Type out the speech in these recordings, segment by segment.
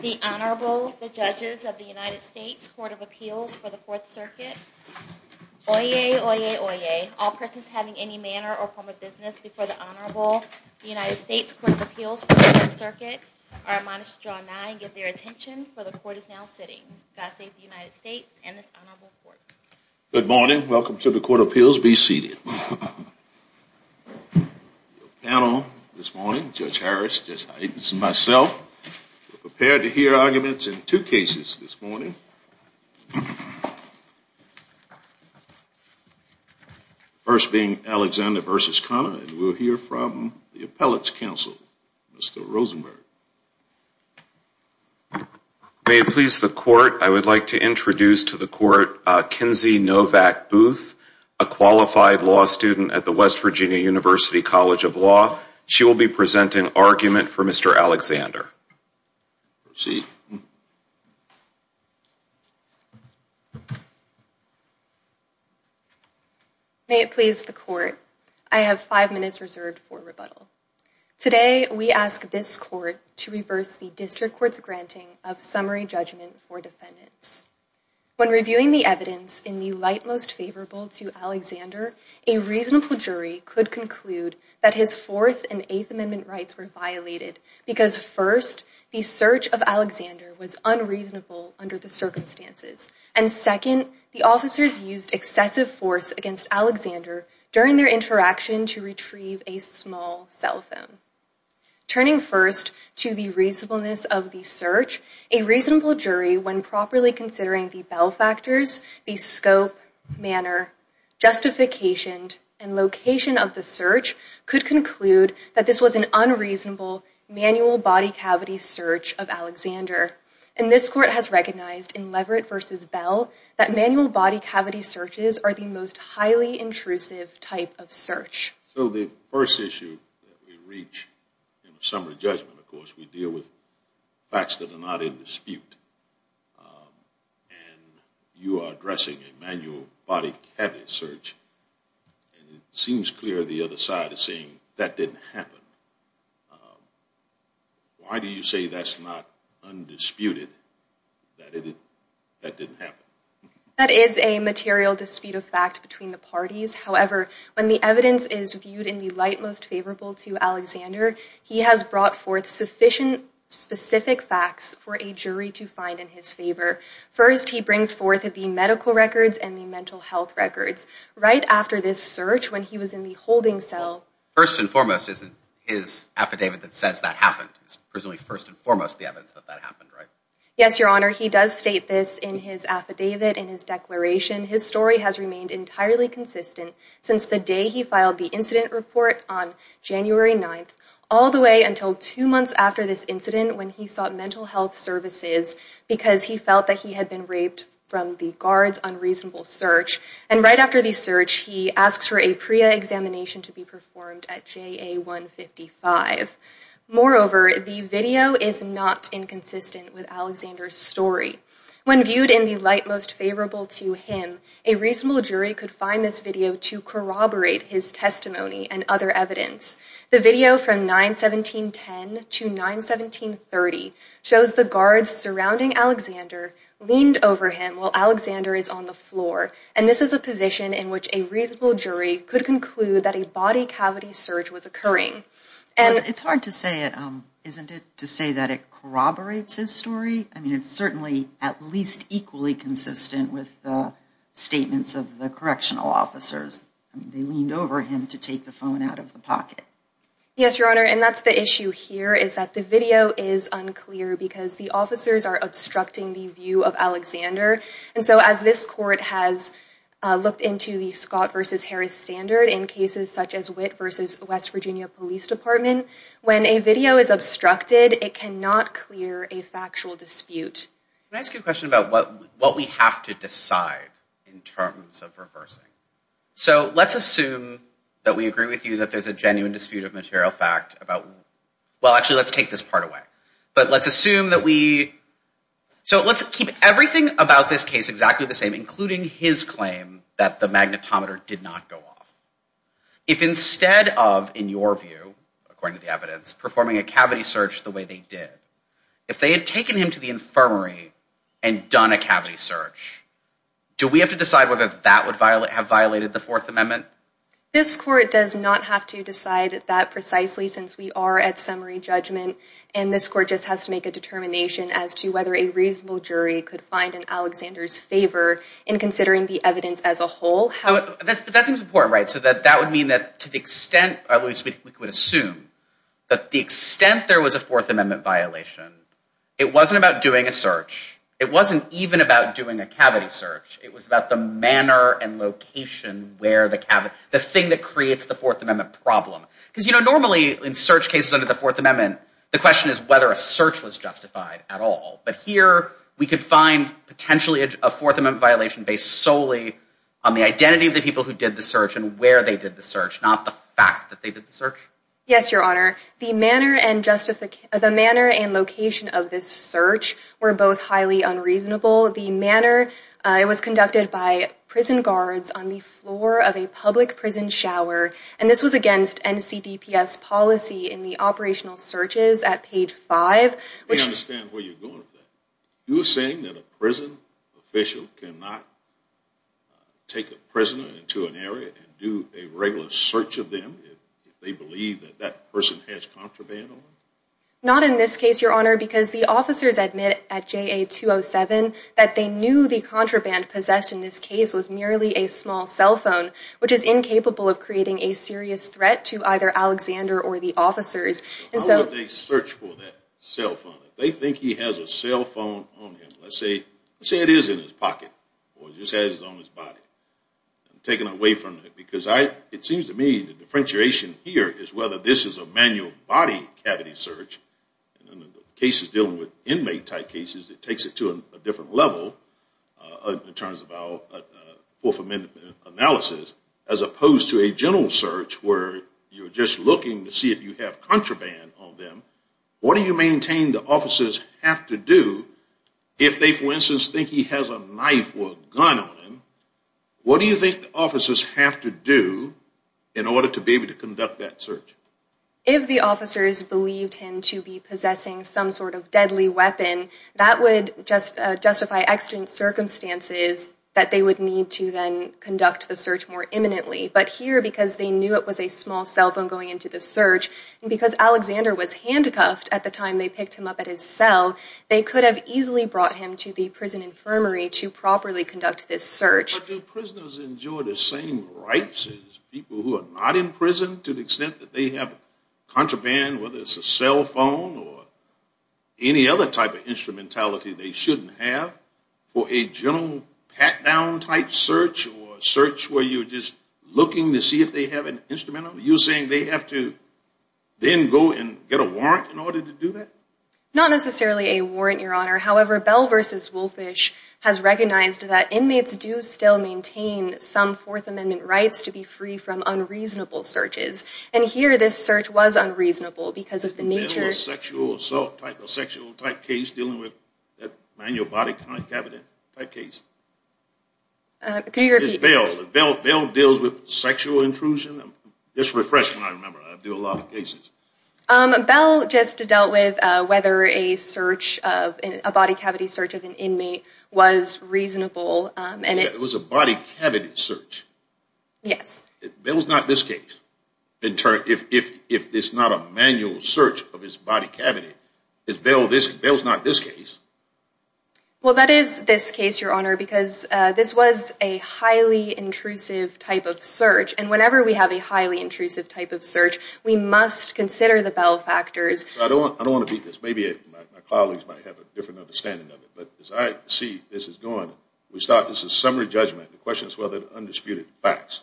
The Honorable, the Judges of the United States Court of Appeals for the Fourth Circuit, Oyez, Oyez, Oyez. All persons having any manner or form of business before the Honorable, the United States Court of Appeals for the Fourth Circuit, are admonished to draw nigh and give their attention, for the Court is now sitting. God save the United States and this Honorable Court. Good morning. Welcome to the Court of Appeals. Be seated. The panel this morning, Judge Harris, Judge Hytens, and myself, are prepared to hear arguments in two cases this morning. The first being Alexander v. Connor, and we'll hear from the Appellate's Counsel, Mr. Rosenberg. May it please the Court, I would like to introduce to the Court, Kinsey Novak Booth, a qualified law student at the West Virginia University College of Law. She will be presenting argument for Mr. Alexander. Proceed. May it please the Court, I have five minutes reserved for rebuttal. Today we ask this Court to reverse the District Court's granting of summary judgment for defendants. When reviewing the evidence in the light most favorable to Alexander, a reasonable jury could conclude that his Fourth and Eighth Amendment rights were violated, because first, the search of Alexander was unreasonable under the circumstances, and second, the officers used excessive force against Alexander during their interaction to retrieve a small cell phone. Turning first to the reasonableness of the search, a reasonable jury, when properly considering the Bell factors, the scope, manner, justification, and location of the search, could conclude that this was an unreasonable manual body cavity search of Alexander. And this Court has recognized in Leverett v. Bell that manual body cavity searches are the most highly intrusive type of search. So the first issue that we reach in the summary judgment, of course, we deal with facts that are not in dispute, and you are addressing a manual body cavity search, and it seems clear the other side is saying that didn't happen. Why do you say that's not undisputed, that that didn't happen? That is a material dispute of fact between the parties. However, when the evidence is viewed in the light most favorable to Alexander, he has brought forth sufficient specific facts for a jury to find in his favor. First, he brings forth the medical records and the mental health records. Right after this search, when he was in the holding cell… First and foremost, is it his affidavit that says that happened? It's presumably first and foremost the evidence that that happened, right? Yes, Your Honor, he does state this in his affidavit, in his declaration. His story has remained entirely consistent since the day he filed the incident report on January 9th, all the way until two months after this incident when he sought mental health services because he felt that he had been raped from the guard's unreasonable search. And right after the search, he asks for a PREA examination to be performed at JA 155. Moreover, the video is not inconsistent with Alexander's story. When viewed in the light most favorable to him, a reasonable jury could find this video to corroborate his testimony and other evidence. The video from 9-17-10 to 9-17-30 shows the guards surrounding Alexander leaned over him while Alexander is on the floor. And this is a position in which a reasonable jury could conclude that a body cavity search was occurring. It's hard to say, isn't it, to say that it corroborates his story? I mean, it's certainly at least equally consistent with the statements of the correctional officers. They leaned over him to take the phone out of the pocket. Yes, Your Honor, and that's the issue here is that the video is unclear because the officers are obstructing the view of Alexander. And so as this court has looked into the Scott versus Harris standard in cases such as Witt versus West Virginia Police Department, when a video is obstructed, it cannot clear a factual dispute. Can I ask you a question about what we have to decide in terms of reversing? So let's assume that we agree with you that there's a genuine dispute of material fact about, well, actually, let's take this part away. But let's assume that we so let's keep everything about this case exactly the same, including his claim that the magnetometer did not go off. If instead of, in your view, according to the evidence, performing a cavity search the way they did, if they had taken him to the infirmary and done a cavity search, do we have to decide whether that would violate have violated the Fourth Amendment? This court does not have to decide that precisely since we are at summary judgment. And this court just has to make a determination as to whether a reasonable jury could find an Alexander's favor in considering the evidence as a whole. How that seems important. Right. So that that would mean that to the extent we would assume that the extent there was a Fourth Amendment violation, it wasn't about doing a search. It wasn't even about doing a cavity search. It was about the manner and location where the cavity, the thing that creates the Fourth Amendment problem. Because, you know, normally in search cases under the Fourth Amendment, the question is whether a search was justified at all. But here we could find potentially a Fourth Amendment violation based solely on the identity of the people who did the search and where they did the search, not the fact that they did the search. Yes, Your Honor. The manner and justification, the manner and location of this search were both highly unreasonable. The manner, it was conducted by prison guards on the floor of a public prison shower. And this was against N.C.D.P.S. policy in the operational searches at page five. I understand where you're going with that. You're saying that a prison official cannot take a prisoner into an area and do a regular search of them if they believe that that person has contraband on them? Not in this case, Your Honor, because the officers admit at J.A. 207 that they knew the contraband possessed in this case was merely a small cell phone, which is incapable of creating a serious threat to either Alexander or the officers. How would they search for that cell phone if they think he has a cell phone on him? Let's say it is in his pocket or just has it on his body. I'm taking away from it because it seems to me the differentiation here is whether this is a manual body cavity search. In cases dealing with inmate type cases, it takes it to a different level in terms of our Fourth Amendment analysis as opposed to a general search where you're just looking to see if you have contraband on them, what do you maintain the officers have to do if they, for instance, think he has a knife or a gun on him? What do you think the officers have to do in order to be able to conduct that search? If the officers believed him to be possessing some sort of deadly weapon, that would just justify accident circumstances that they would need to then conduct the search more imminently. But here, because they knew it was a small cell phone going into the search, and because Alexander was handcuffed at the time they picked him up at his cell, they could have easily brought him to the prison infirmary to properly conduct this search. Do prisoners enjoy the same rights as people who are not in prison to the extent that they have contraband, whether it's a cell phone or any other type of instrumentality they shouldn't have? For a general pat-down type search or search where you're just looking to see if they have an instrument on them, you're saying they have to then go and get a warrant in order to do that? Not necessarily a warrant, Your Honor. However, Bell v. Wolfish has recognized that inmates do still maintain some Fourth Amendment rights to be free from unreasonable searches. And here this search was unreasonable because of the nature… Is Bell a sexual assault type, a sexual type case dealing with a manual body cavity type case? Could you repeat? Is Bell, Bell deals with sexual intrusion? Just refresh my memory. I do a lot of cases. Bell just dealt with whether a search of, a body cavity search of an inmate was reasonable and it… It was a body cavity search? Yes. Bell's not this case. In turn, if it's not a manual search of his body cavity, is Bell this, Bell's not this case? Well, that is this case, Your Honor, because this was a highly intrusive type of search. And whenever we have a highly intrusive type of search, we must consider the Bell factors. I don't want to beat this. Maybe my colleagues might have a different understanding of it. But as I see this is going, we start, this is summary judgment. The question is whether it's undisputed facts.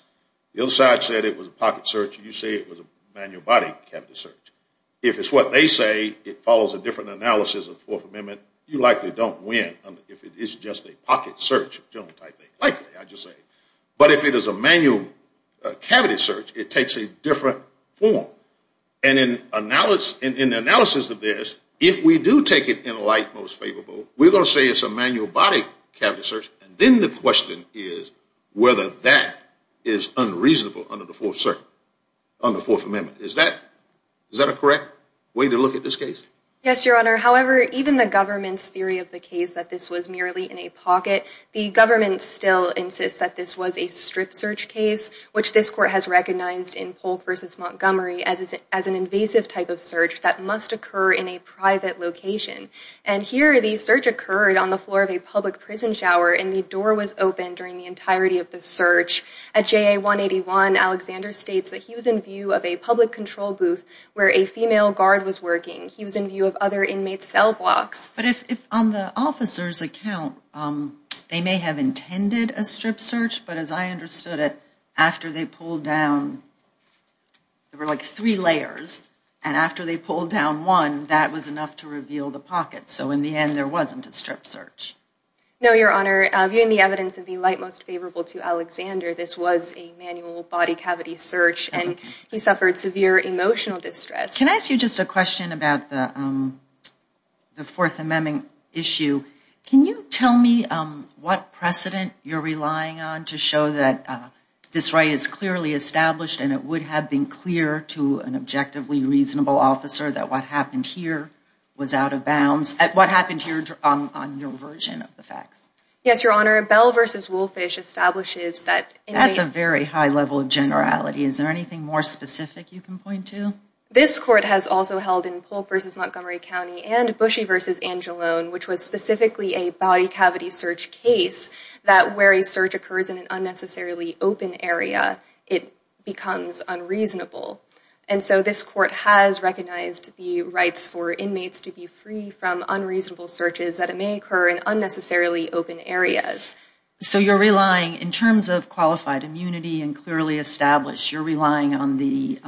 The other side said it was a pocket search. You say it was a manual body cavity search. If it's what they say, it follows a different analysis of the Fourth Amendment. You likely don't win if it is just a pocket search, I think. Likely, I just say. But if it is a manual cavity search, it takes a different form. And in analysis of this, if we do take it in a light most favorable, we're going to say it's a manual body cavity search. And then the question is whether that is unreasonable under the Fourth Amendment. Is that a correct way to look at this case? Yes, Your Honor. However, even the government's theory of the case that this was merely in a pocket, the government still insists that this was a strip search case, which this court has recognized in Polk v. Montgomery as an invasive type of search that must occur in a private location. And here the search occurred on the floor of a public prison shower, and the door was open during the entirety of the search. At JA 181, Alexander states that he was in view of a public control booth where a female guard was working. He was in view of other inmates' cell blocks. But if on the officer's account, they may have intended a strip search, but as I understood it, after they pulled down, there were like three layers, and after they pulled down one, that was enough to reveal the pocket. So in the end, there wasn't a strip search. No, Your Honor. Viewing the evidence in the light most favorable to Alexander, this was a manual body cavity search, and he suffered severe emotional distress. Can I ask you just a question about the Fourth Amendment issue? Can you tell me what precedent you're relying on to show that this right is clearly established and it would have been clear to an objectively reasonable officer that what happened here was out of bounds? What happened here on your version of the facts? Yes, Your Honor. Bell v. Wolfish establishes that... That's a very high level of generality. Is there anything more specific you can point to? This court has also held in Polk v. Montgomery County and Bushey v. Angeloan, which was specifically a body cavity search case, that where a search occurs in an unnecessarily open area, it becomes unreasonable. And so this court has recognized the rights for inmates to be free from unreasonable searches that may occur in unnecessarily open areas. So you're relying, in terms of qualified immunity and clearly established, you're relying on the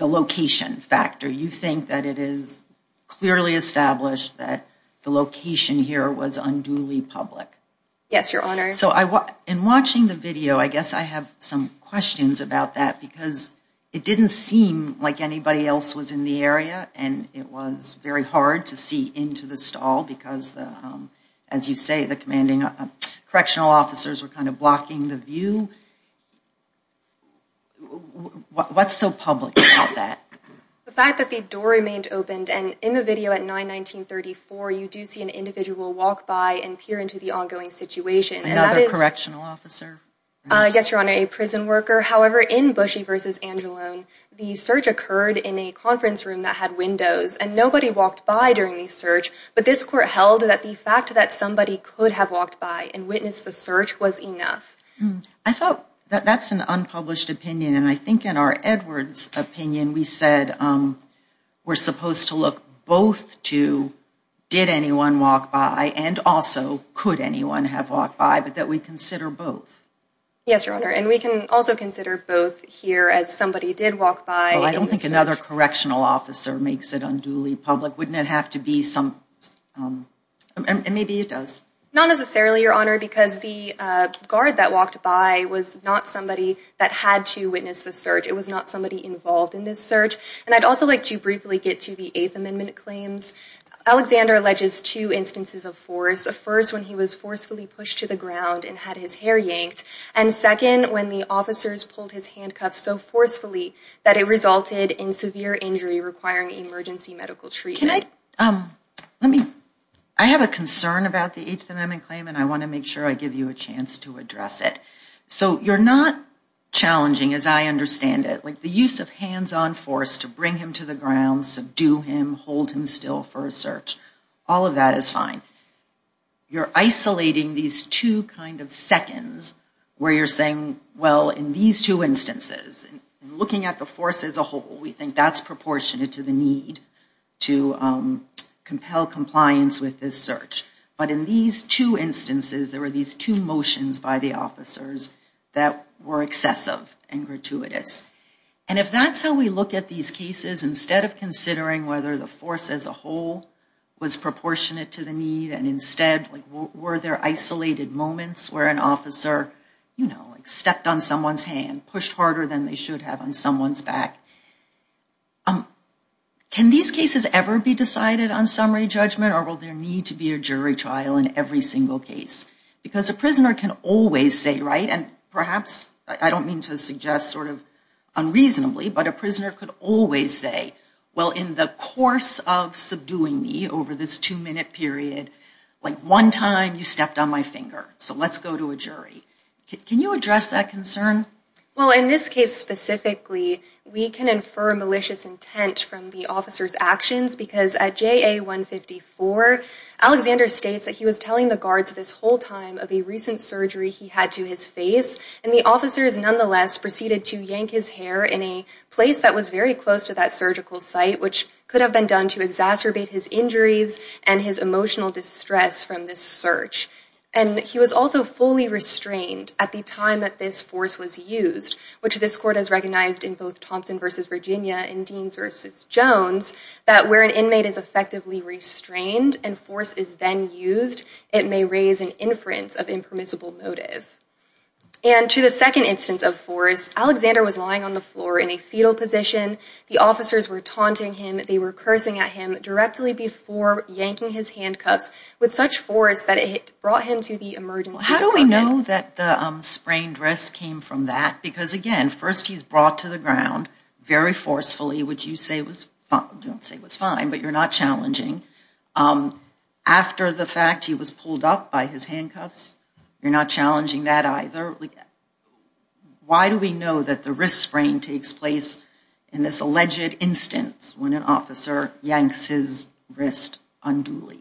location factor. You think that it is clearly established that the location here was unduly public. Yes, Your Honor. So in watching the video, I guess I have some questions about that, because it didn't seem like anybody else was in the area, and it was very hard to see into the stall because, as you say, the correctional officers were kind of blocking the view. What's so public about that? The fact that the door remained opened, and in the video at 9-19-34, you do see an individual walk by and peer into the ongoing situation. Another correctional officer? Yes, Your Honor. A prison worker. However, in Bushey v. Angeloan, the search occurred in a conference room that had windows, and nobody walked by during the search. But this court held that the fact that somebody could have walked by and witnessed the search was enough. I thought that that's an unpublished opinion, and I think in our Edwards opinion we said we're supposed to look both to did anyone walk by and also could anyone have walked by, but that we consider both. Yes, Your Honor, and we can also consider both here as somebody did walk by. Well, I don't think another correctional officer makes it unduly public. Wouldn't it have to be some—and maybe it does. Not necessarily, Your Honor, because the guard that walked by was not somebody that had to witness the search. It was not somebody involved in this search. And I'd also like to briefly get to the Eighth Amendment claims. Alexander alleges two instances of force, first when he was forcefully pushed to the ground and had his hair yanked, and second when the officers pulled his handcuffs so forcefully that it resulted in severe injury requiring emergency medical treatment. I have a concern about the Eighth Amendment claim, and I want to make sure I give you a chance to address it. So you're not challenging, as I understand it, like the use of hands-on force to bring him to the ground, subdue him, hold him still for a search. All of that is fine. You're isolating these two kind of seconds where you're saying, well, in these two instances, looking at the force as a whole, we think that's proportionate to the need to compel compliance with this search. But in these two instances, there were these two motions by the officers that were excessive and gratuitous. And if that's how we look at these cases, instead of considering whether the force as a whole was proportionate to the need and instead were there isolated moments where an officer, you know, stepped on someone's hand, pushed harder than they should have on someone's back, can these cases ever be decided on summary judgment or will there need to be a jury trial in every single case? Because a prisoner can always say, right, and perhaps I don't mean to suggest sort of unreasonably, but a prisoner could always say, well, in the course of subduing me over this two-minute period, like one time you stepped on my finger, so let's go to a jury. Can you address that concern? Well, in this case specifically, we can infer malicious intent from the officer's actions because at JA-154, Alexander states that he was telling the guards this whole time of a recent surgery he had to his face, and the officers nonetheless proceeded to yank his hair in a place that was very close to that surgical site, which could have been done to exacerbate his injuries and his emotional distress from this search. And he was also fully restrained at the time that this force was used, which this court has recognized in both Thompson v. Virginia and Deans v. Jones, that where an inmate is effectively restrained and force is then used, it may raise an inference of impermissible motive. And to the second instance of force, Alexander was lying on the floor in a fetal position. The officers were taunting him. They were cursing at him directly before yanking his handcuffs with such force that it brought him to the emergency department. How do we know that the sprained wrist came from that? Because, again, first he's brought to the ground very forcefully, which you say was fine, but you're not challenging. After the fact, he was pulled up by his handcuffs. You're not challenging that either. Why do we know that the wrist sprain takes place in this alleged instance when an officer yanks his wrist unduly?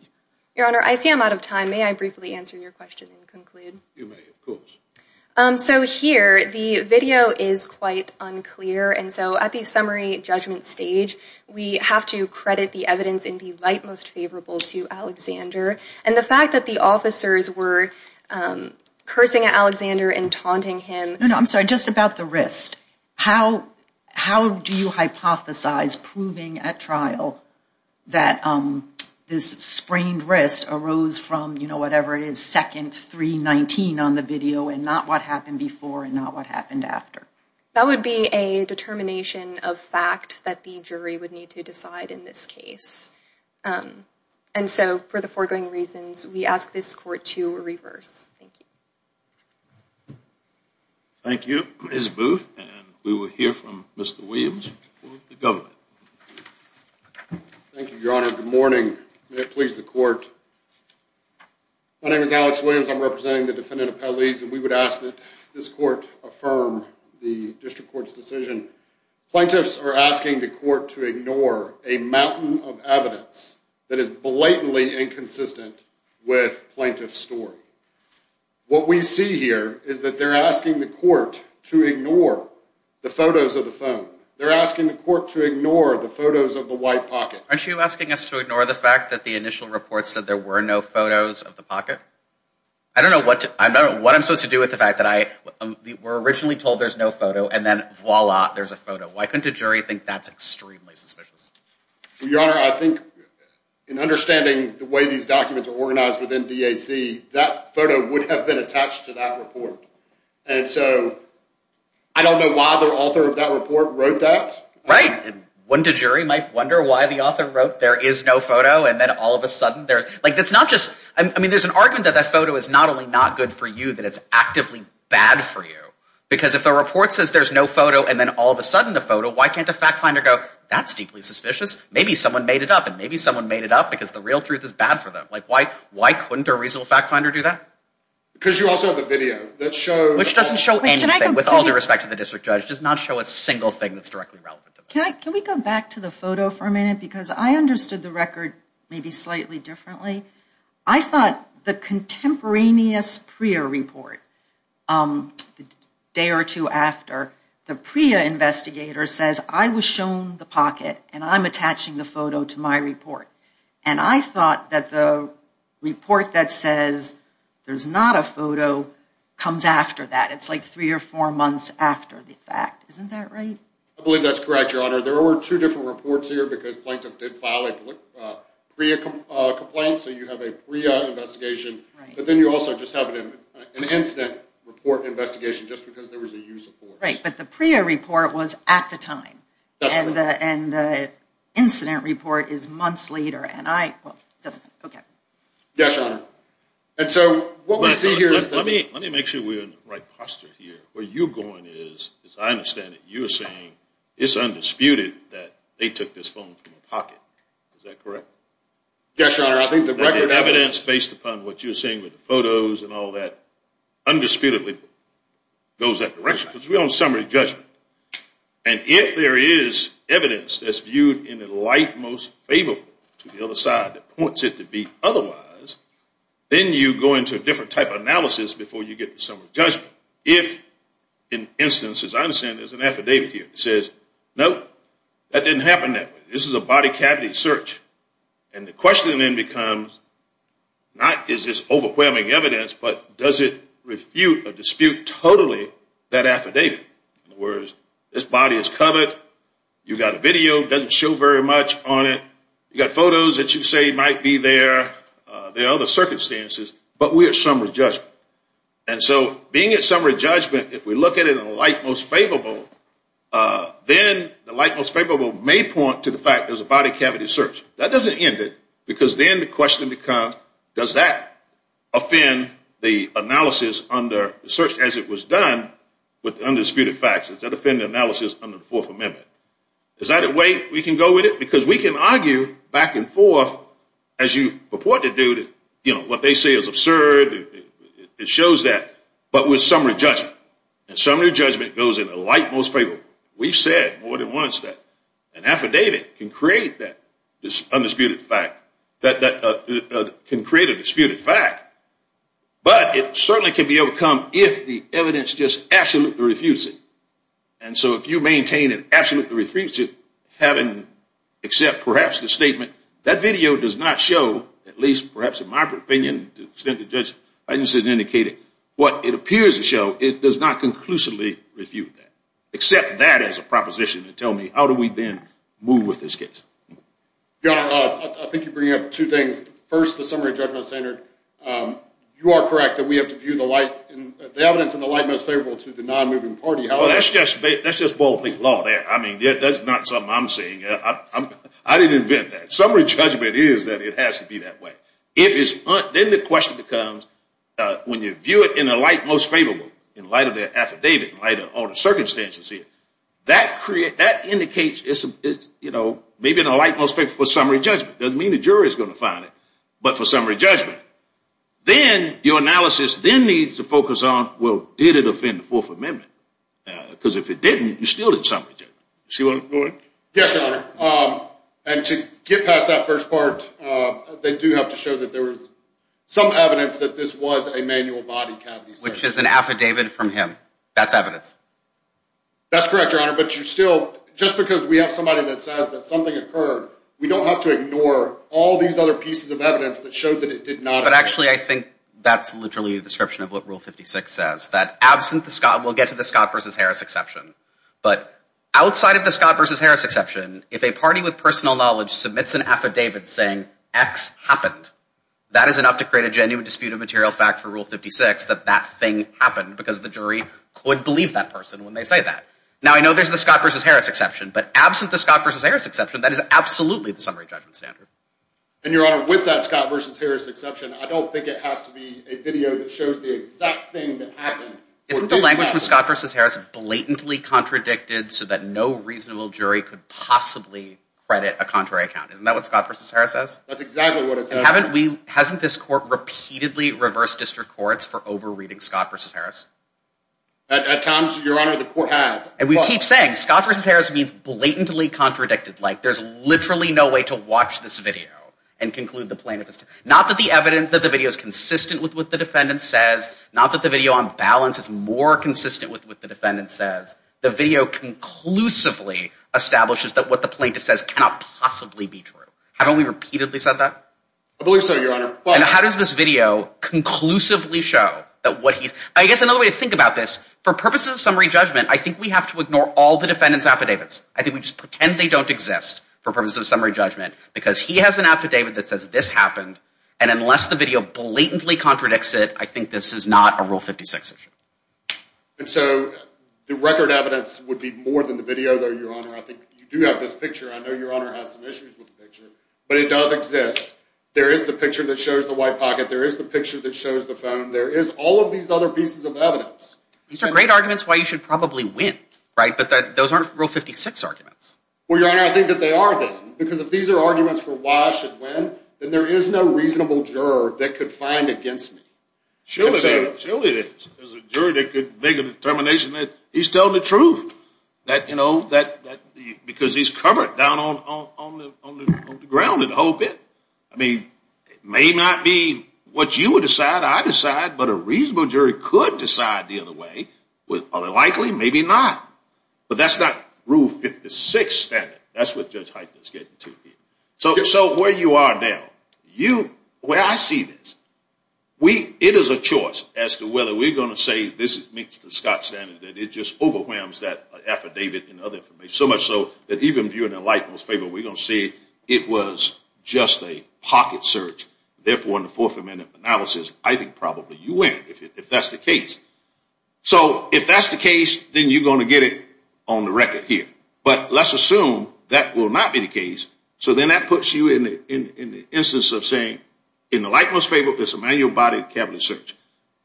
Your Honor, I see I'm out of time. May I briefly answer your question and conclude? You may, of course. So here, the video is quite unclear. And so at the summary judgment stage, we have to credit the evidence in the light most favorable to Alexander. And the fact that the officers were cursing at Alexander and taunting him. No, no, I'm sorry, just about the wrist. How do you hypothesize proving at trial that this sprained wrist arose from, you know, whatever it is, second 319 on the video and not what happened before and not what happened after? That would be a determination of fact that the jury would need to decide in this case. And so for the foregoing reasons, we ask this court to reverse. Thank you. Thank you. Ms. Booth, and we will hear from Mr. Williams for the government. Thank you, Your Honor. Good morning. May it please the court. My name is Alex Williams. I'm representing the defendant appellees, and we would ask that this court affirm the district court's decision. Plaintiffs are asking the court to ignore a mountain of evidence that is blatantly inconsistent with plaintiff's story. What we see here is that they're asking the court to ignore the photos of the phone. They're asking the court to ignore the photos of the white pocket. Aren't you asking us to ignore the fact that the initial report said there were no photos of the pocket? I don't know what I'm supposed to do with the fact that we're originally told there's no photo and then voila, there's a photo. Why couldn't a jury think that's extremely suspicious? Your Honor, I think in understanding the way these documents are organized within DAC, that photo would have been attached to that report. And so I don't know why the author of that report wrote that. Right. Wouldn't a jury might wonder why the author wrote there is no photo and then all of a sudden there's, like, that's not just, I mean, there's an argument that that photo is not only not good for you, that it's actively bad for you. Because if the report says there's no photo and then all of a sudden the photo, why can't a fact finder go, that's deeply suspicious? Maybe someone made it up and maybe someone made it up because the real truth is bad for them. Like, why couldn't a reasonable fact finder do that? Because you also have a video that shows. Which doesn't show anything with all due respect to the district judge. It does not show a single thing that's directly relevant to this. Can we go back to the photo for a minute? Because I understood the record maybe slightly differently. I thought the contemporaneous PREA report, the day or two after, the PREA investigator says I was shown the pocket and I'm attaching the photo to my report. And I thought that the report that says there's not a photo comes after that. It's like three or four months after the fact. Isn't that right? I believe that's correct, Your Honor. There were two different reports here because Plaintiff did file a PREA complaint. So you have a PREA investigation. But then you also just have an incident report investigation just because there was a use of force. Right, but the PREA report was at the time. And the incident report is months later. Yes, Your Honor. Let me make sure we're in the right posture here. Where you're going is, as I understand it, you're saying it's undisputed that they took this phone from a pocket. Is that correct? Yes, Your Honor. I think the record evidence based upon what you're saying with the photos and all that undisputedly goes that direction. Because we're on summary judgment. And if there is evidence that's viewed in the light most favorable to the other side that points it to be otherwise, then you go into a different type of analysis before you get to summary judgment. If, in instances, as I understand it, there's an affidavit here that says, nope, that didn't happen that way. This is a body cavity search. And the question then becomes, not is this overwhelming evidence, but does it refute or dispute totally that affidavit? In other words, this body is covered. You've got a video that doesn't show very much on it. You've got photos that you say might be there. There are other circumstances. But we're at summary judgment. And so being at summary judgment, if we look at it in the light most favorable, then the light most favorable may point to the fact there's a body cavity search. That doesn't end it because then the question becomes, does that offend the analysis under the search as it was done with undisputed facts? Does that offend the analysis under the Fourth Amendment? Is that a way we can go with it? Because we can argue back and forth, as you purport to do, that what they say is absurd. It shows that. But with summary judgment. And summary judgment goes in the light most favorable. We've said more than once that an affidavit can create that undisputed fact, can create a disputed fact. But it certainly can be overcome if the evidence just absolutely refutes it. And so if you maintain an absolutely refutes it, having except perhaps the statement, that video does not show, at least perhaps in my opinion, to the extent the judge has indicated what it appears to show, it does not conclusively refute that, except that as a proposition to tell me how do we then move with this case. Your Honor, I think you're bringing up two things. First, the summary judgment standard. You are correct that we have to view the evidence in the light most favorable to the non-moving party. That's just ballpark law there. I mean, that's not something I'm saying. I didn't invent that. Summary judgment is that it has to be that way. Then the question becomes, when you view it in the light most favorable, in light of the affidavit, in light of all the circumstances here, that indicates it's maybe in the light most favorable for summary judgment. It doesn't mean the jury is going to find it, but for summary judgment. Then your analysis then needs to focus on, well, did it offend the Fourth Amendment? Because if it didn't, you still did summary judgment. You see what I'm doing? Yes, Your Honor. And to get past that first part, they do have to show that there was some evidence that this was a manual body cavity search. Which is an affidavit from him. That's evidence. That's correct, Your Honor. But you still, just because we have somebody that says that something occurred, we don't have to ignore all these other pieces of evidence that showed that it did not occur. But actually, I think that's literally a description of what Rule 56 says. That absent the Scott, we'll get to the Scott v. Harris exception. But outside of the Scott v. Harris exception, if a party with personal knowledge submits an affidavit saying X happened, that is enough to create a genuine dispute of material fact for Rule 56 that that thing happened. Because the jury could believe that person when they say that. Now, I know there's the Scott v. Harris exception. But absent the Scott v. Harris exception, that is absolutely the summary judgment standard. And, Your Honor, with that Scott v. Harris exception, I don't think it has to be a video that shows the exact thing that happened. Isn't the language from Scott v. Harris blatantly contradicted so that no reasonable jury could possibly credit a contrary account? Isn't that what Scott v. Harris says? That's exactly what it says. Hasn't this court repeatedly reversed district courts for over-reading Scott v. Harris? At times, Your Honor, the court has. And we keep saying Scott v. Harris means blatantly contradicted. Like, there's literally no way to watch this video and conclude the plaintiff. Not that the evidence that the video is consistent with what the defendant says. Not that the video on balance is more consistent with what the defendant says. The video conclusively establishes that what the plaintiff says cannot possibly be true. I believe so, Your Honor. And how does this video conclusively show? I guess another way to think about this, for purposes of summary judgment, I think we have to ignore all the defendant's affidavits. I think we just pretend they don't exist for purposes of summary judgment. Because he has an affidavit that says this happened. And unless the video blatantly contradicts it, I think this is not a Rule 56 issue. And so the record evidence would be more than the video, though, Your Honor. I think you do have this picture. I know Your Honor has some issues with the picture. But it does exist. There is the picture that shows the white pocket. There is the picture that shows the phone. There is all of these other pieces of evidence. These are great arguments why you should probably win, right? But those aren't Rule 56 arguments. Well, Your Honor, I think that they are then. Because if these are arguments for why I should win, then there is no reasonable juror that could find against me. Surely there is. Surely there is. There's a juror that could make a determination that he's telling the truth. Because he's covered down on the ground in the whole bit. I mean, it may not be what you would decide I decide. But a reasonable jury could decide the other way. Are they likely? Maybe not. But that's not Rule 56 standard. That's what Judge Heitner is getting to here. So where you are now, where I see this, it is a choice as to whether we're going to say this meets the Scott standard. That it just overwhelms that affidavit and other information. So much so that even viewing a light most favorable, we're going to say it was just a pocket search. Therefore, in the fourth amendment analysis, I think probably you win if that's the case. So if that's the case, then you're going to get it on the record here. But let's assume that will not be the case. So then that puts you in the instance of saying in the light most favorable, there's a manual body cavity search.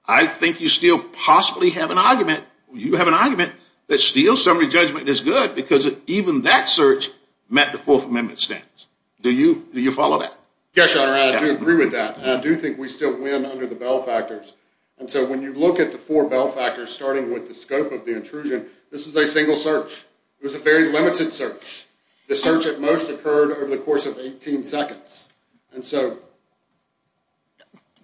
I think you still possibly have an argument. You have an argument that still summary judgment is good because even that search met the fourth amendment standards. Do you follow that? Yes, Your Honor. I do agree with that. I do think we still win under the Bell factors. And so when you look at the four Bell factors starting with the scope of the intrusion, this is a single search. It was a very limited search. The search at most occurred over the course of 18 seconds. And so...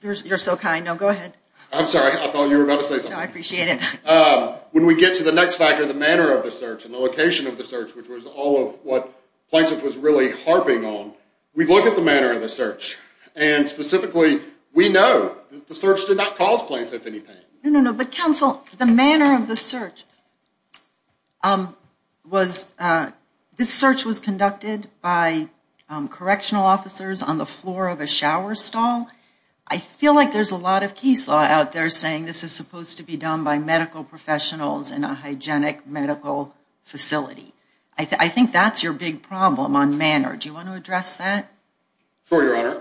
You're so kind. Now go ahead. I'm sorry. I thought you were about to say something. No, I appreciate it. When we get to the next factor, the manner of the search and the location of the search, which was all of what Plaintiff was really harping on, we look at the manner of the search. And specifically, we know that the search did not cause Plaintiff any pain. No, no, no. But counsel, the manner of the search was... This search was conducted by correctional officers on the floor of a shower stall. I feel like there's a lot of case law out there saying this is supposed to be done by medical professionals in a hygienic medical facility. I think that's your big problem on manner. Do you want to address that? Sure, Your Honor.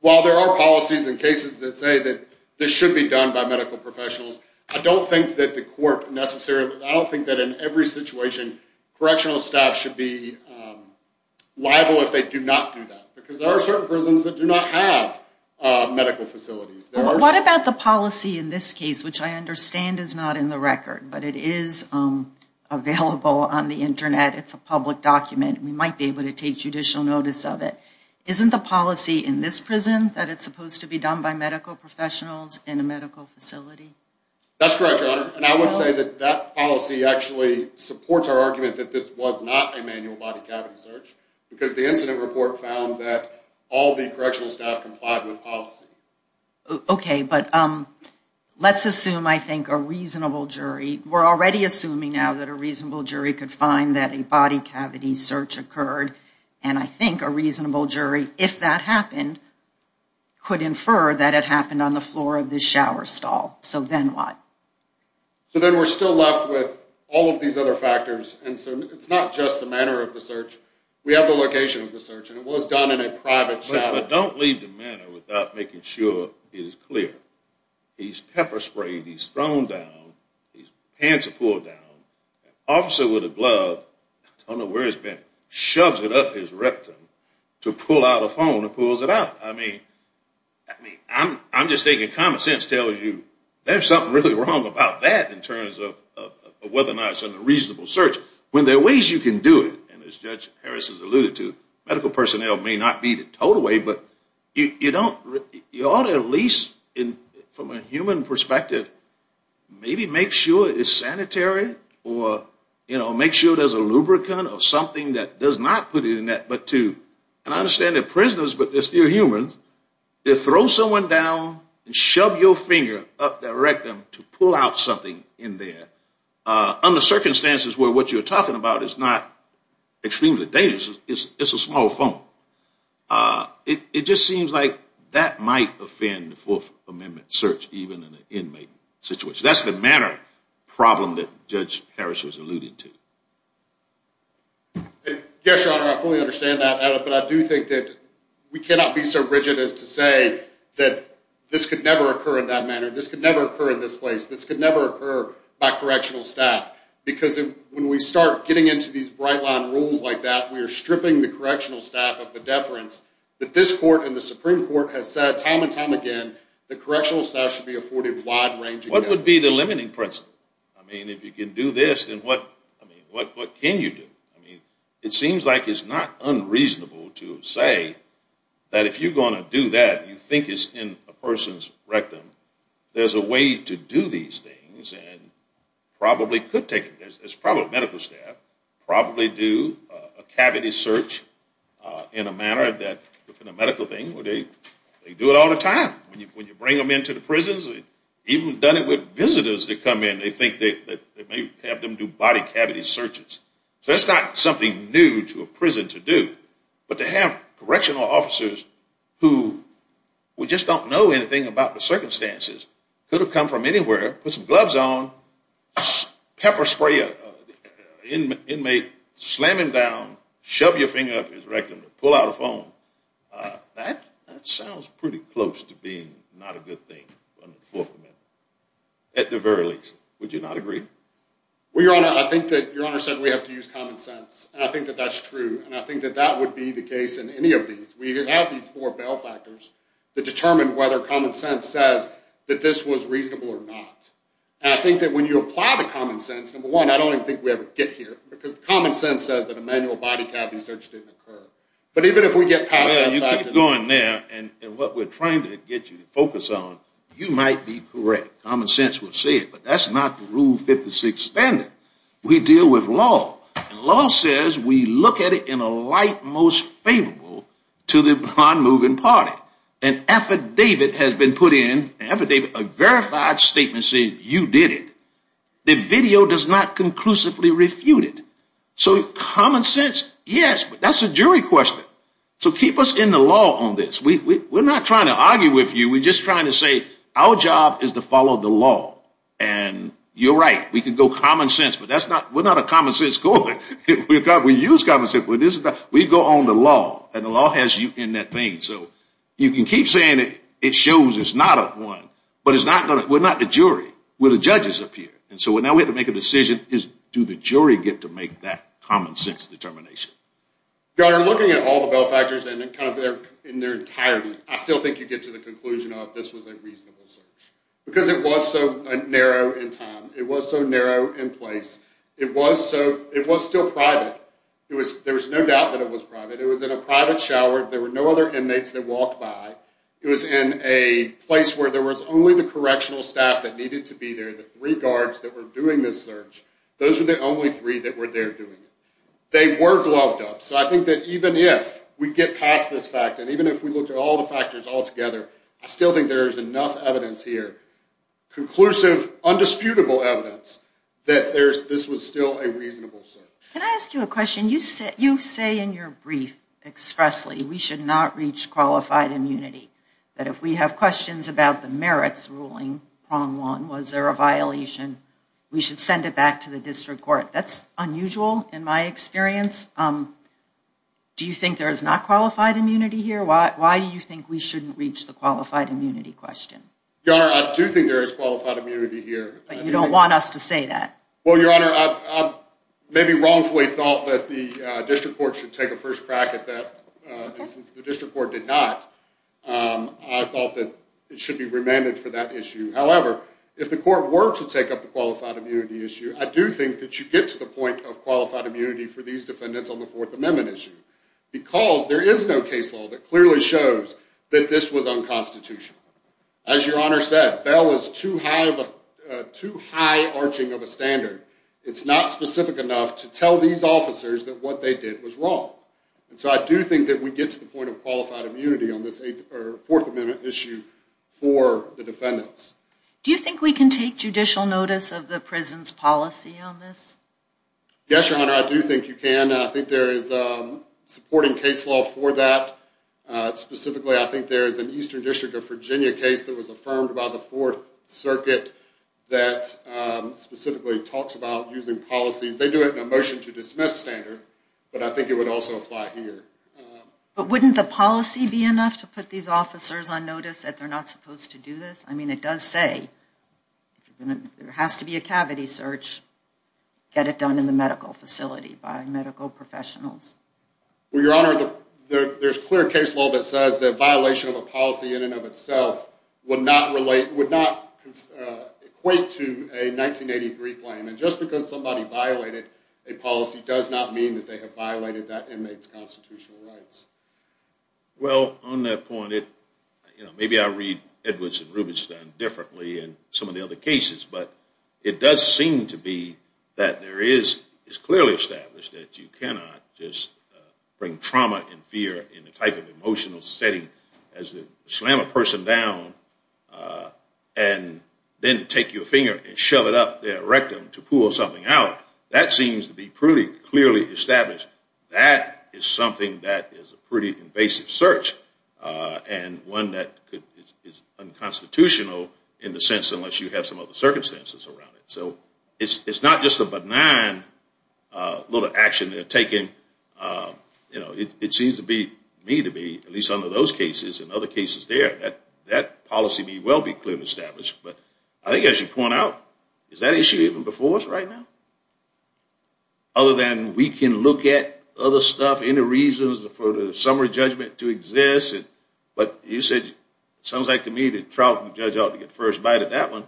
While there are policies and cases that say that this should be done by medical professionals, I don't think that the court necessarily... I don't think that in every situation, correctional staff should be liable if they do not do that. Because there are certain prisons that do not have medical facilities. What about the policy in this case, which I understand is not in the record, but it is available on the Internet. It's a public document. We might be able to take judicial notice of it. Isn't the policy in this prison that it's supposed to be done by medical professionals in a medical facility? That's correct, Your Honor. And I would say that that policy actually supports our argument that this was not a manual body cavity search, because the incident report found that all the correctional staff complied with policy. Okay, but let's assume, I think, a reasonable jury... We're already assuming now that a reasonable jury could find that a body cavity search occurred. And I think a reasonable jury, if that happened, could infer that it happened on the floor of this shower stall. So then what? So then we're still left with all of these other factors. And so it's not just the manner of the search. We have the location of the search, and it was done in a private shower. But don't leave the matter without making sure it is clear. He's pepper sprayed. He's thrown down. His pants are pulled down. An officer with a glove, I don't know where it's been, shoves it up his rectum to pull out a phone and pulls it out. I mean, I'm just thinking common sense tells you there's something really wrong about that in terms of whether or not it's a reasonable search. When there are ways you can do it, and as Judge Harris has alluded to, medical personnel may not be the total way, but you ought to at least, from a human perspective, maybe make sure it's sanitary or make sure there's a lubricant or something that does not put it in that. And I understand they're prisoners, but they're still humans. They throw someone down and shove your finger up their rectum to pull out something in there under circumstances where what you're talking about is not extremely dangerous. It's a small phone. It just seems like that might offend the Fourth Amendment search, even in an inmate situation. That's the manner problem that Judge Harris has alluded to. Yes, Your Honor, I fully understand that. But I do think that we cannot be so rigid as to say that this could never occur in that manner. This could never occur in this place. This could never occur by correctional staff. Because when we start getting into these bright-line rules like that, we are stripping the correctional staff of the deference that this Court and the Supreme Court have said time and time again that correctional staff should be afforded a wide range of deference. What would be the limiting principle? I mean, if you can do this, then what can you do? It seems like it's not unreasonable to say that if you're going to do that, you think it's in a person's rectum, there's a way to do these things and probably could take it. It's probably medical staff probably do a cavity search in a manner that, within a medical thing, they do it all the time. When you bring them into the prisons, even done it with visitors that come in, they think that they may have them do body cavity searches. So it's not something new to a prison to do. But to have correctional officers who just don't know anything about the circumstances, could have come from anywhere, put some gloves on, pepper spray an inmate, slam him down, shove your finger up his rectum, pull out a phone, that sounds pretty close to being not a good thing under the Fourth Amendment, at the very least. Would you not agree? Well, Your Honor, I think that Your Honor said we have to use common sense, and I think that that's true. And I think that that would be the case in any of these. We have these four bell factors that determine whether common sense says that this was reasonable or not. And I think that when you apply the common sense, number one, I don't even think we ever get here, because the common sense says that a manual body cavity search didn't occur. But even if we get past that... Well, you keep going there, and what we're trying to get you to focus on, you might be correct. Common sense will say it. But that's not the Rule 56 standard. We deal with law. And law says we look at it in a light most favorable to the non-moving party. An affidavit has been put in, an affidavit, a verified statement saying you did it. The video does not conclusively refute it. So common sense, yes, but that's a jury question. So keep us in the law on this. We're not trying to argue with you. We're just trying to say our job is to follow the law. And you're right. We could go common sense, but we're not a common sense court. We use common sense. We go on the law, and the law has you in that thing. So you can keep saying it shows it's not a one, but we're not the jury. We're the judges up here. And so now we have to make a decision. Do the jury get to make that common sense determination? Governor, looking at all the Belfactors in their entirety, I still think you get to the conclusion of this was a reasonable search because it was so narrow in time. It was so narrow in place. It was still private. There was no doubt that it was private. It was in a private shower. There were no other inmates that walked by. It was in a place where there was only the correctional staff that needed to be there, the three guards that were doing this search. Those were the only three that were there doing it. They were gloved up. So I think that even if we get past this fact and even if we look at all the factors all together, I still think there is enough evidence here, conclusive, undisputable evidence, that this was still a reasonable search. Can I ask you a question? You say in your brief expressly we should not reach qualified immunity, that if we have questions about the merits ruling, prong one, was there a violation, we should send it back to the district court. That's unusual in my experience. Do you think there is not qualified immunity here? Why do you think we shouldn't reach the qualified immunity question? Your Honor, I do think there is qualified immunity here. But you don't want us to say that. Well, Your Honor, I maybe wrongfully thought that the district court should take a first crack at that. Since the district court did not, I thought that it should be remanded for that issue. However, if the court were to take up the qualified immunity issue, I do think that you get to the point of qualified immunity for these defendants on the Fourth Amendment issue because there is no case law that clearly shows that this was unconstitutional. As Your Honor said, Bell is too high arching of a standard. It's not specific enough to tell these officers that what they did was wrong. So I do think that we get to the point of qualified immunity on this Fourth Amendment issue for the defendants. Do you think we can take judicial notice of the prison's policy on this? Yes, Your Honor, I do think you can. I think there is supporting case law for that. Specifically, I think there is an Eastern District of Virginia case that was affirmed by the Fourth Circuit that specifically talks about using policies. They do it in a motion to dismiss standard, but I think it would also apply here. But wouldn't the policy be enough to put these officers on notice that they're not supposed to do this? I mean, it does say there has to be a cavity search. Get it done in the medical facility by medical professionals. Well, Your Honor, there's clear case law that says the violation of a policy in and of itself would not equate to a 1983 claim. And just because somebody violated a policy does not mean that they have violated that inmate's constitutional rights. Well, on that point, maybe I read Edwards and Rubinstein differently in some of the other cases, but it does seem to be that it's clearly established that you cannot just bring trauma and fear in the type of emotional setting as to slam a person down and then take your finger and shove it up their rectum to pull something out. That seems to be pretty clearly established. That is something that is a pretty invasive search and one that is unconstitutional in the sense unless you have some other circumstances around it. So it's not just a benign little action they're taking. It seems to me to be, at least under those cases and other cases there, that policy may well be clearly established. But I think I should point out, is that issue even before us right now? Other than we can look at other stuff, any reasons for the summary judgment to exist, but you said it sounds like to me that Trout and the judge ought to get the first bite at that one.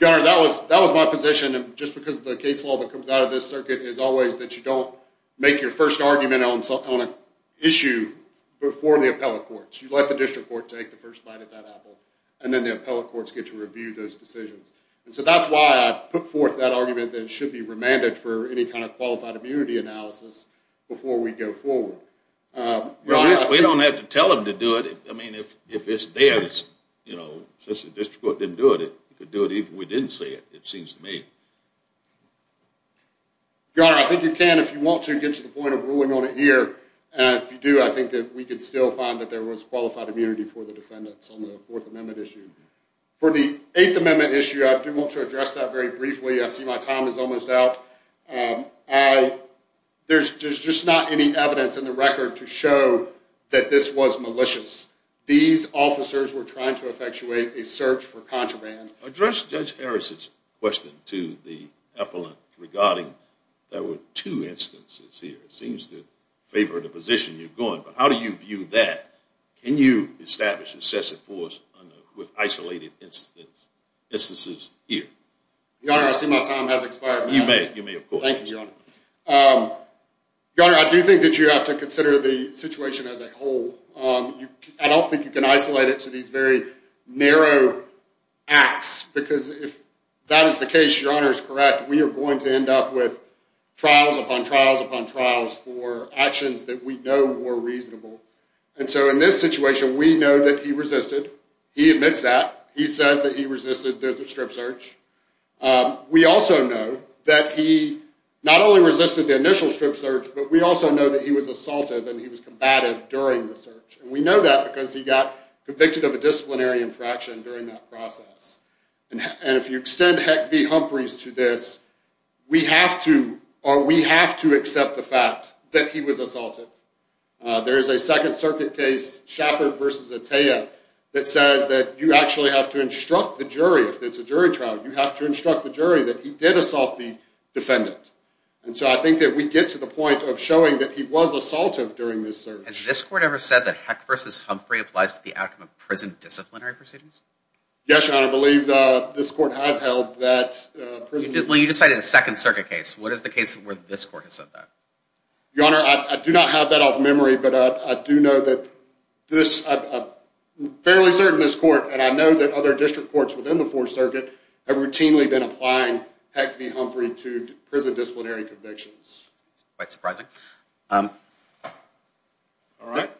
Your Honor, that was my position. Just because the case law that comes out of this circuit is always that you don't make your first argument on an issue before the appellate courts. You let the district court take the first bite at that apple, and then the appellate courts get to review those decisions. So that's why I put forth that argument that it should be remanded for any kind of qualified immunity analysis before we go forward. We don't have to tell them to do it. I mean, if it's theirs, since the district court didn't do it, they could do it even if we didn't say it, it seems to me. Your Honor, I think you can if you want to get to the point of ruling on it here. And if you do, I think that we could still find that there was qualified immunity for the defendants on the Fourth Amendment issue. For the Eighth Amendment issue, I do want to address that very briefly. I see my time is almost out. There's just not any evidence in the record to show that this was malicious. These officers were trying to effectuate a search for contraband. Address Judge Harris's question to the appellant regarding there were two instances here. It seems to favor the position you're going. But how do you view that? Can you establish excessive force with isolated instances here? Your Honor, I see my time has expired. You may, of course. Thank you, Your Honor. Your Honor, I do think that you have to consider the situation as a whole. I don't think you can isolate it to these very narrow acts because if that is the case, Your Honor is correct, we are going to end up with trials upon trials upon trials for actions that we know were reasonable. In this situation, we know that he resisted. He admits that. He says that he resisted the strip search. We also know that he not only resisted the initial strip search, but we also know that he was assaultive and he was combative during the search. We know that because he got convicted of a disciplinary infraction during that process. If you extend Heck v. Humphreys to this, we have to accept the fact that he was assaulted. There is a Second Circuit case, Shepard v. Attea, that says that you actually have to instruct the jury, if it's a jury trial, you have to instruct the jury that he did assault the defendant. And so I think that we get to the point of showing that he was assaultive during this search. Has this court ever said that Heck v. Humphrey applies to the outcome of prison disciplinary proceedings? Yes, Your Honor. I believe this court has held that prison... Well, you just cited a Second Circuit case. What is the case where this court has said that? Your Honor, I do not have that off memory, but I do know that this... I'm fairly certain this court, and I know that other district courts within the Fourth Circuit, have routinely been applying Heck v. Humphrey to prison disciplinary convictions. That's quite surprising. All right.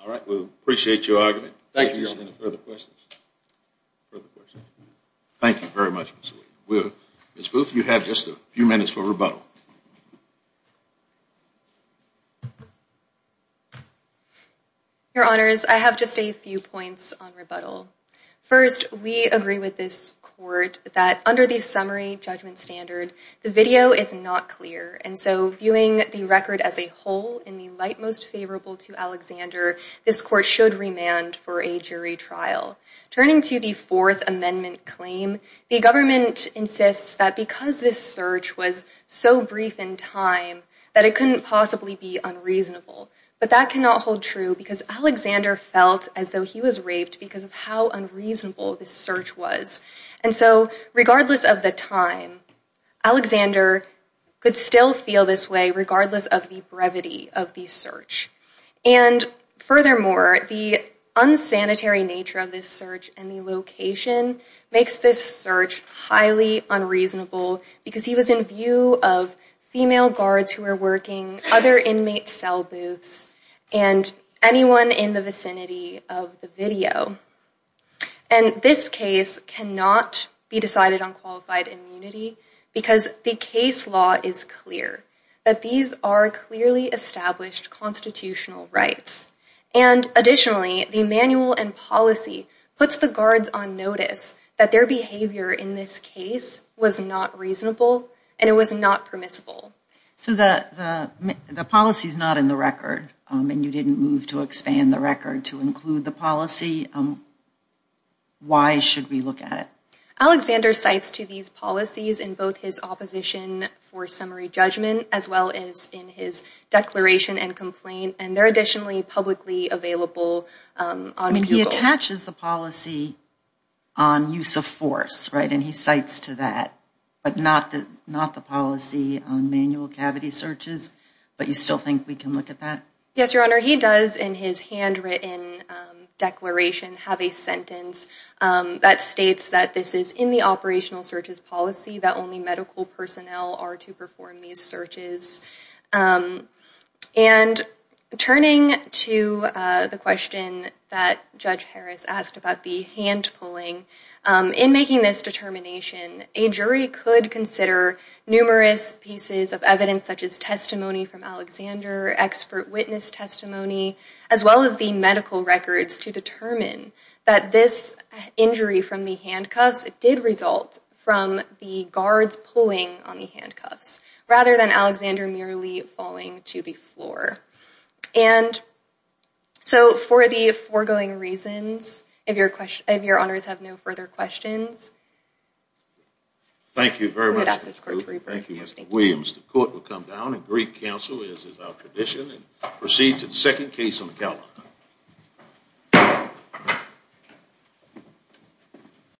All right, we appreciate your argument. Thank you, Your Honor. Any further questions? Further questions? Thank you very much, Mr. Wheeler. Ms. Booth, you have just a few minutes for rebuttal. Your Honors, I have just a few points on rebuttal. First, we agree with this court that under the summary judgment standard, the video is not clear, and so viewing the record as a whole, in the light most favorable to Alexander, this court should remand for a jury trial. Turning to the Fourth Amendment claim, the government insists that because this search was so brief in time that it couldn't possibly be unreasonable. But that cannot hold true because Alexander felt as though he was raped because of how unreasonable this search was. And so, regardless of the time, Alexander could still feel this way regardless of the brevity of the search. And furthermore, the unsanitary nature of this search and the location makes this search highly unreasonable because he was in view of female guards who were working, other inmate cell booths, and anyone in the vicinity of the video. And this case cannot be decided on qualified immunity because the case law is clear that these are clearly established constitutional rights. And additionally, the manual and policy puts the guards on notice that their behavior in this case was not reasonable and it was not permissible. So the policy is not in the record, and you didn't move to expand the record to include the policy. Why should we look at it? Alexander cites to these policies in both his opposition for summary judgment as well as in his declaration and complaint, and they're additionally publicly available on Google. He attaches the policy on use of force, right, and he cites to that, but not the policy on manual cavity searches, but you still think we can look at that? Yes, Your Honor. He does, in his handwritten declaration, have a sentence that states that this is in the operational searches policy, that only medical personnel are to perform these searches. And turning to the question that Judge Harris asked about the hand pulling, in making this determination, a jury could consider numerous pieces of evidence such as testimony from Alexander, expert witness testimony, as well as the medical records to determine that this injury from the handcuffs did result from the guards pulling on the handcuffs rather than Alexander merely falling to the floor. And so for the foregoing reasons, if Your Honors have no further questions... Thank you very much. Thank you, Mr. Williams. The court will come down and brief counsel, as is our tradition, and proceed to the second case on the count.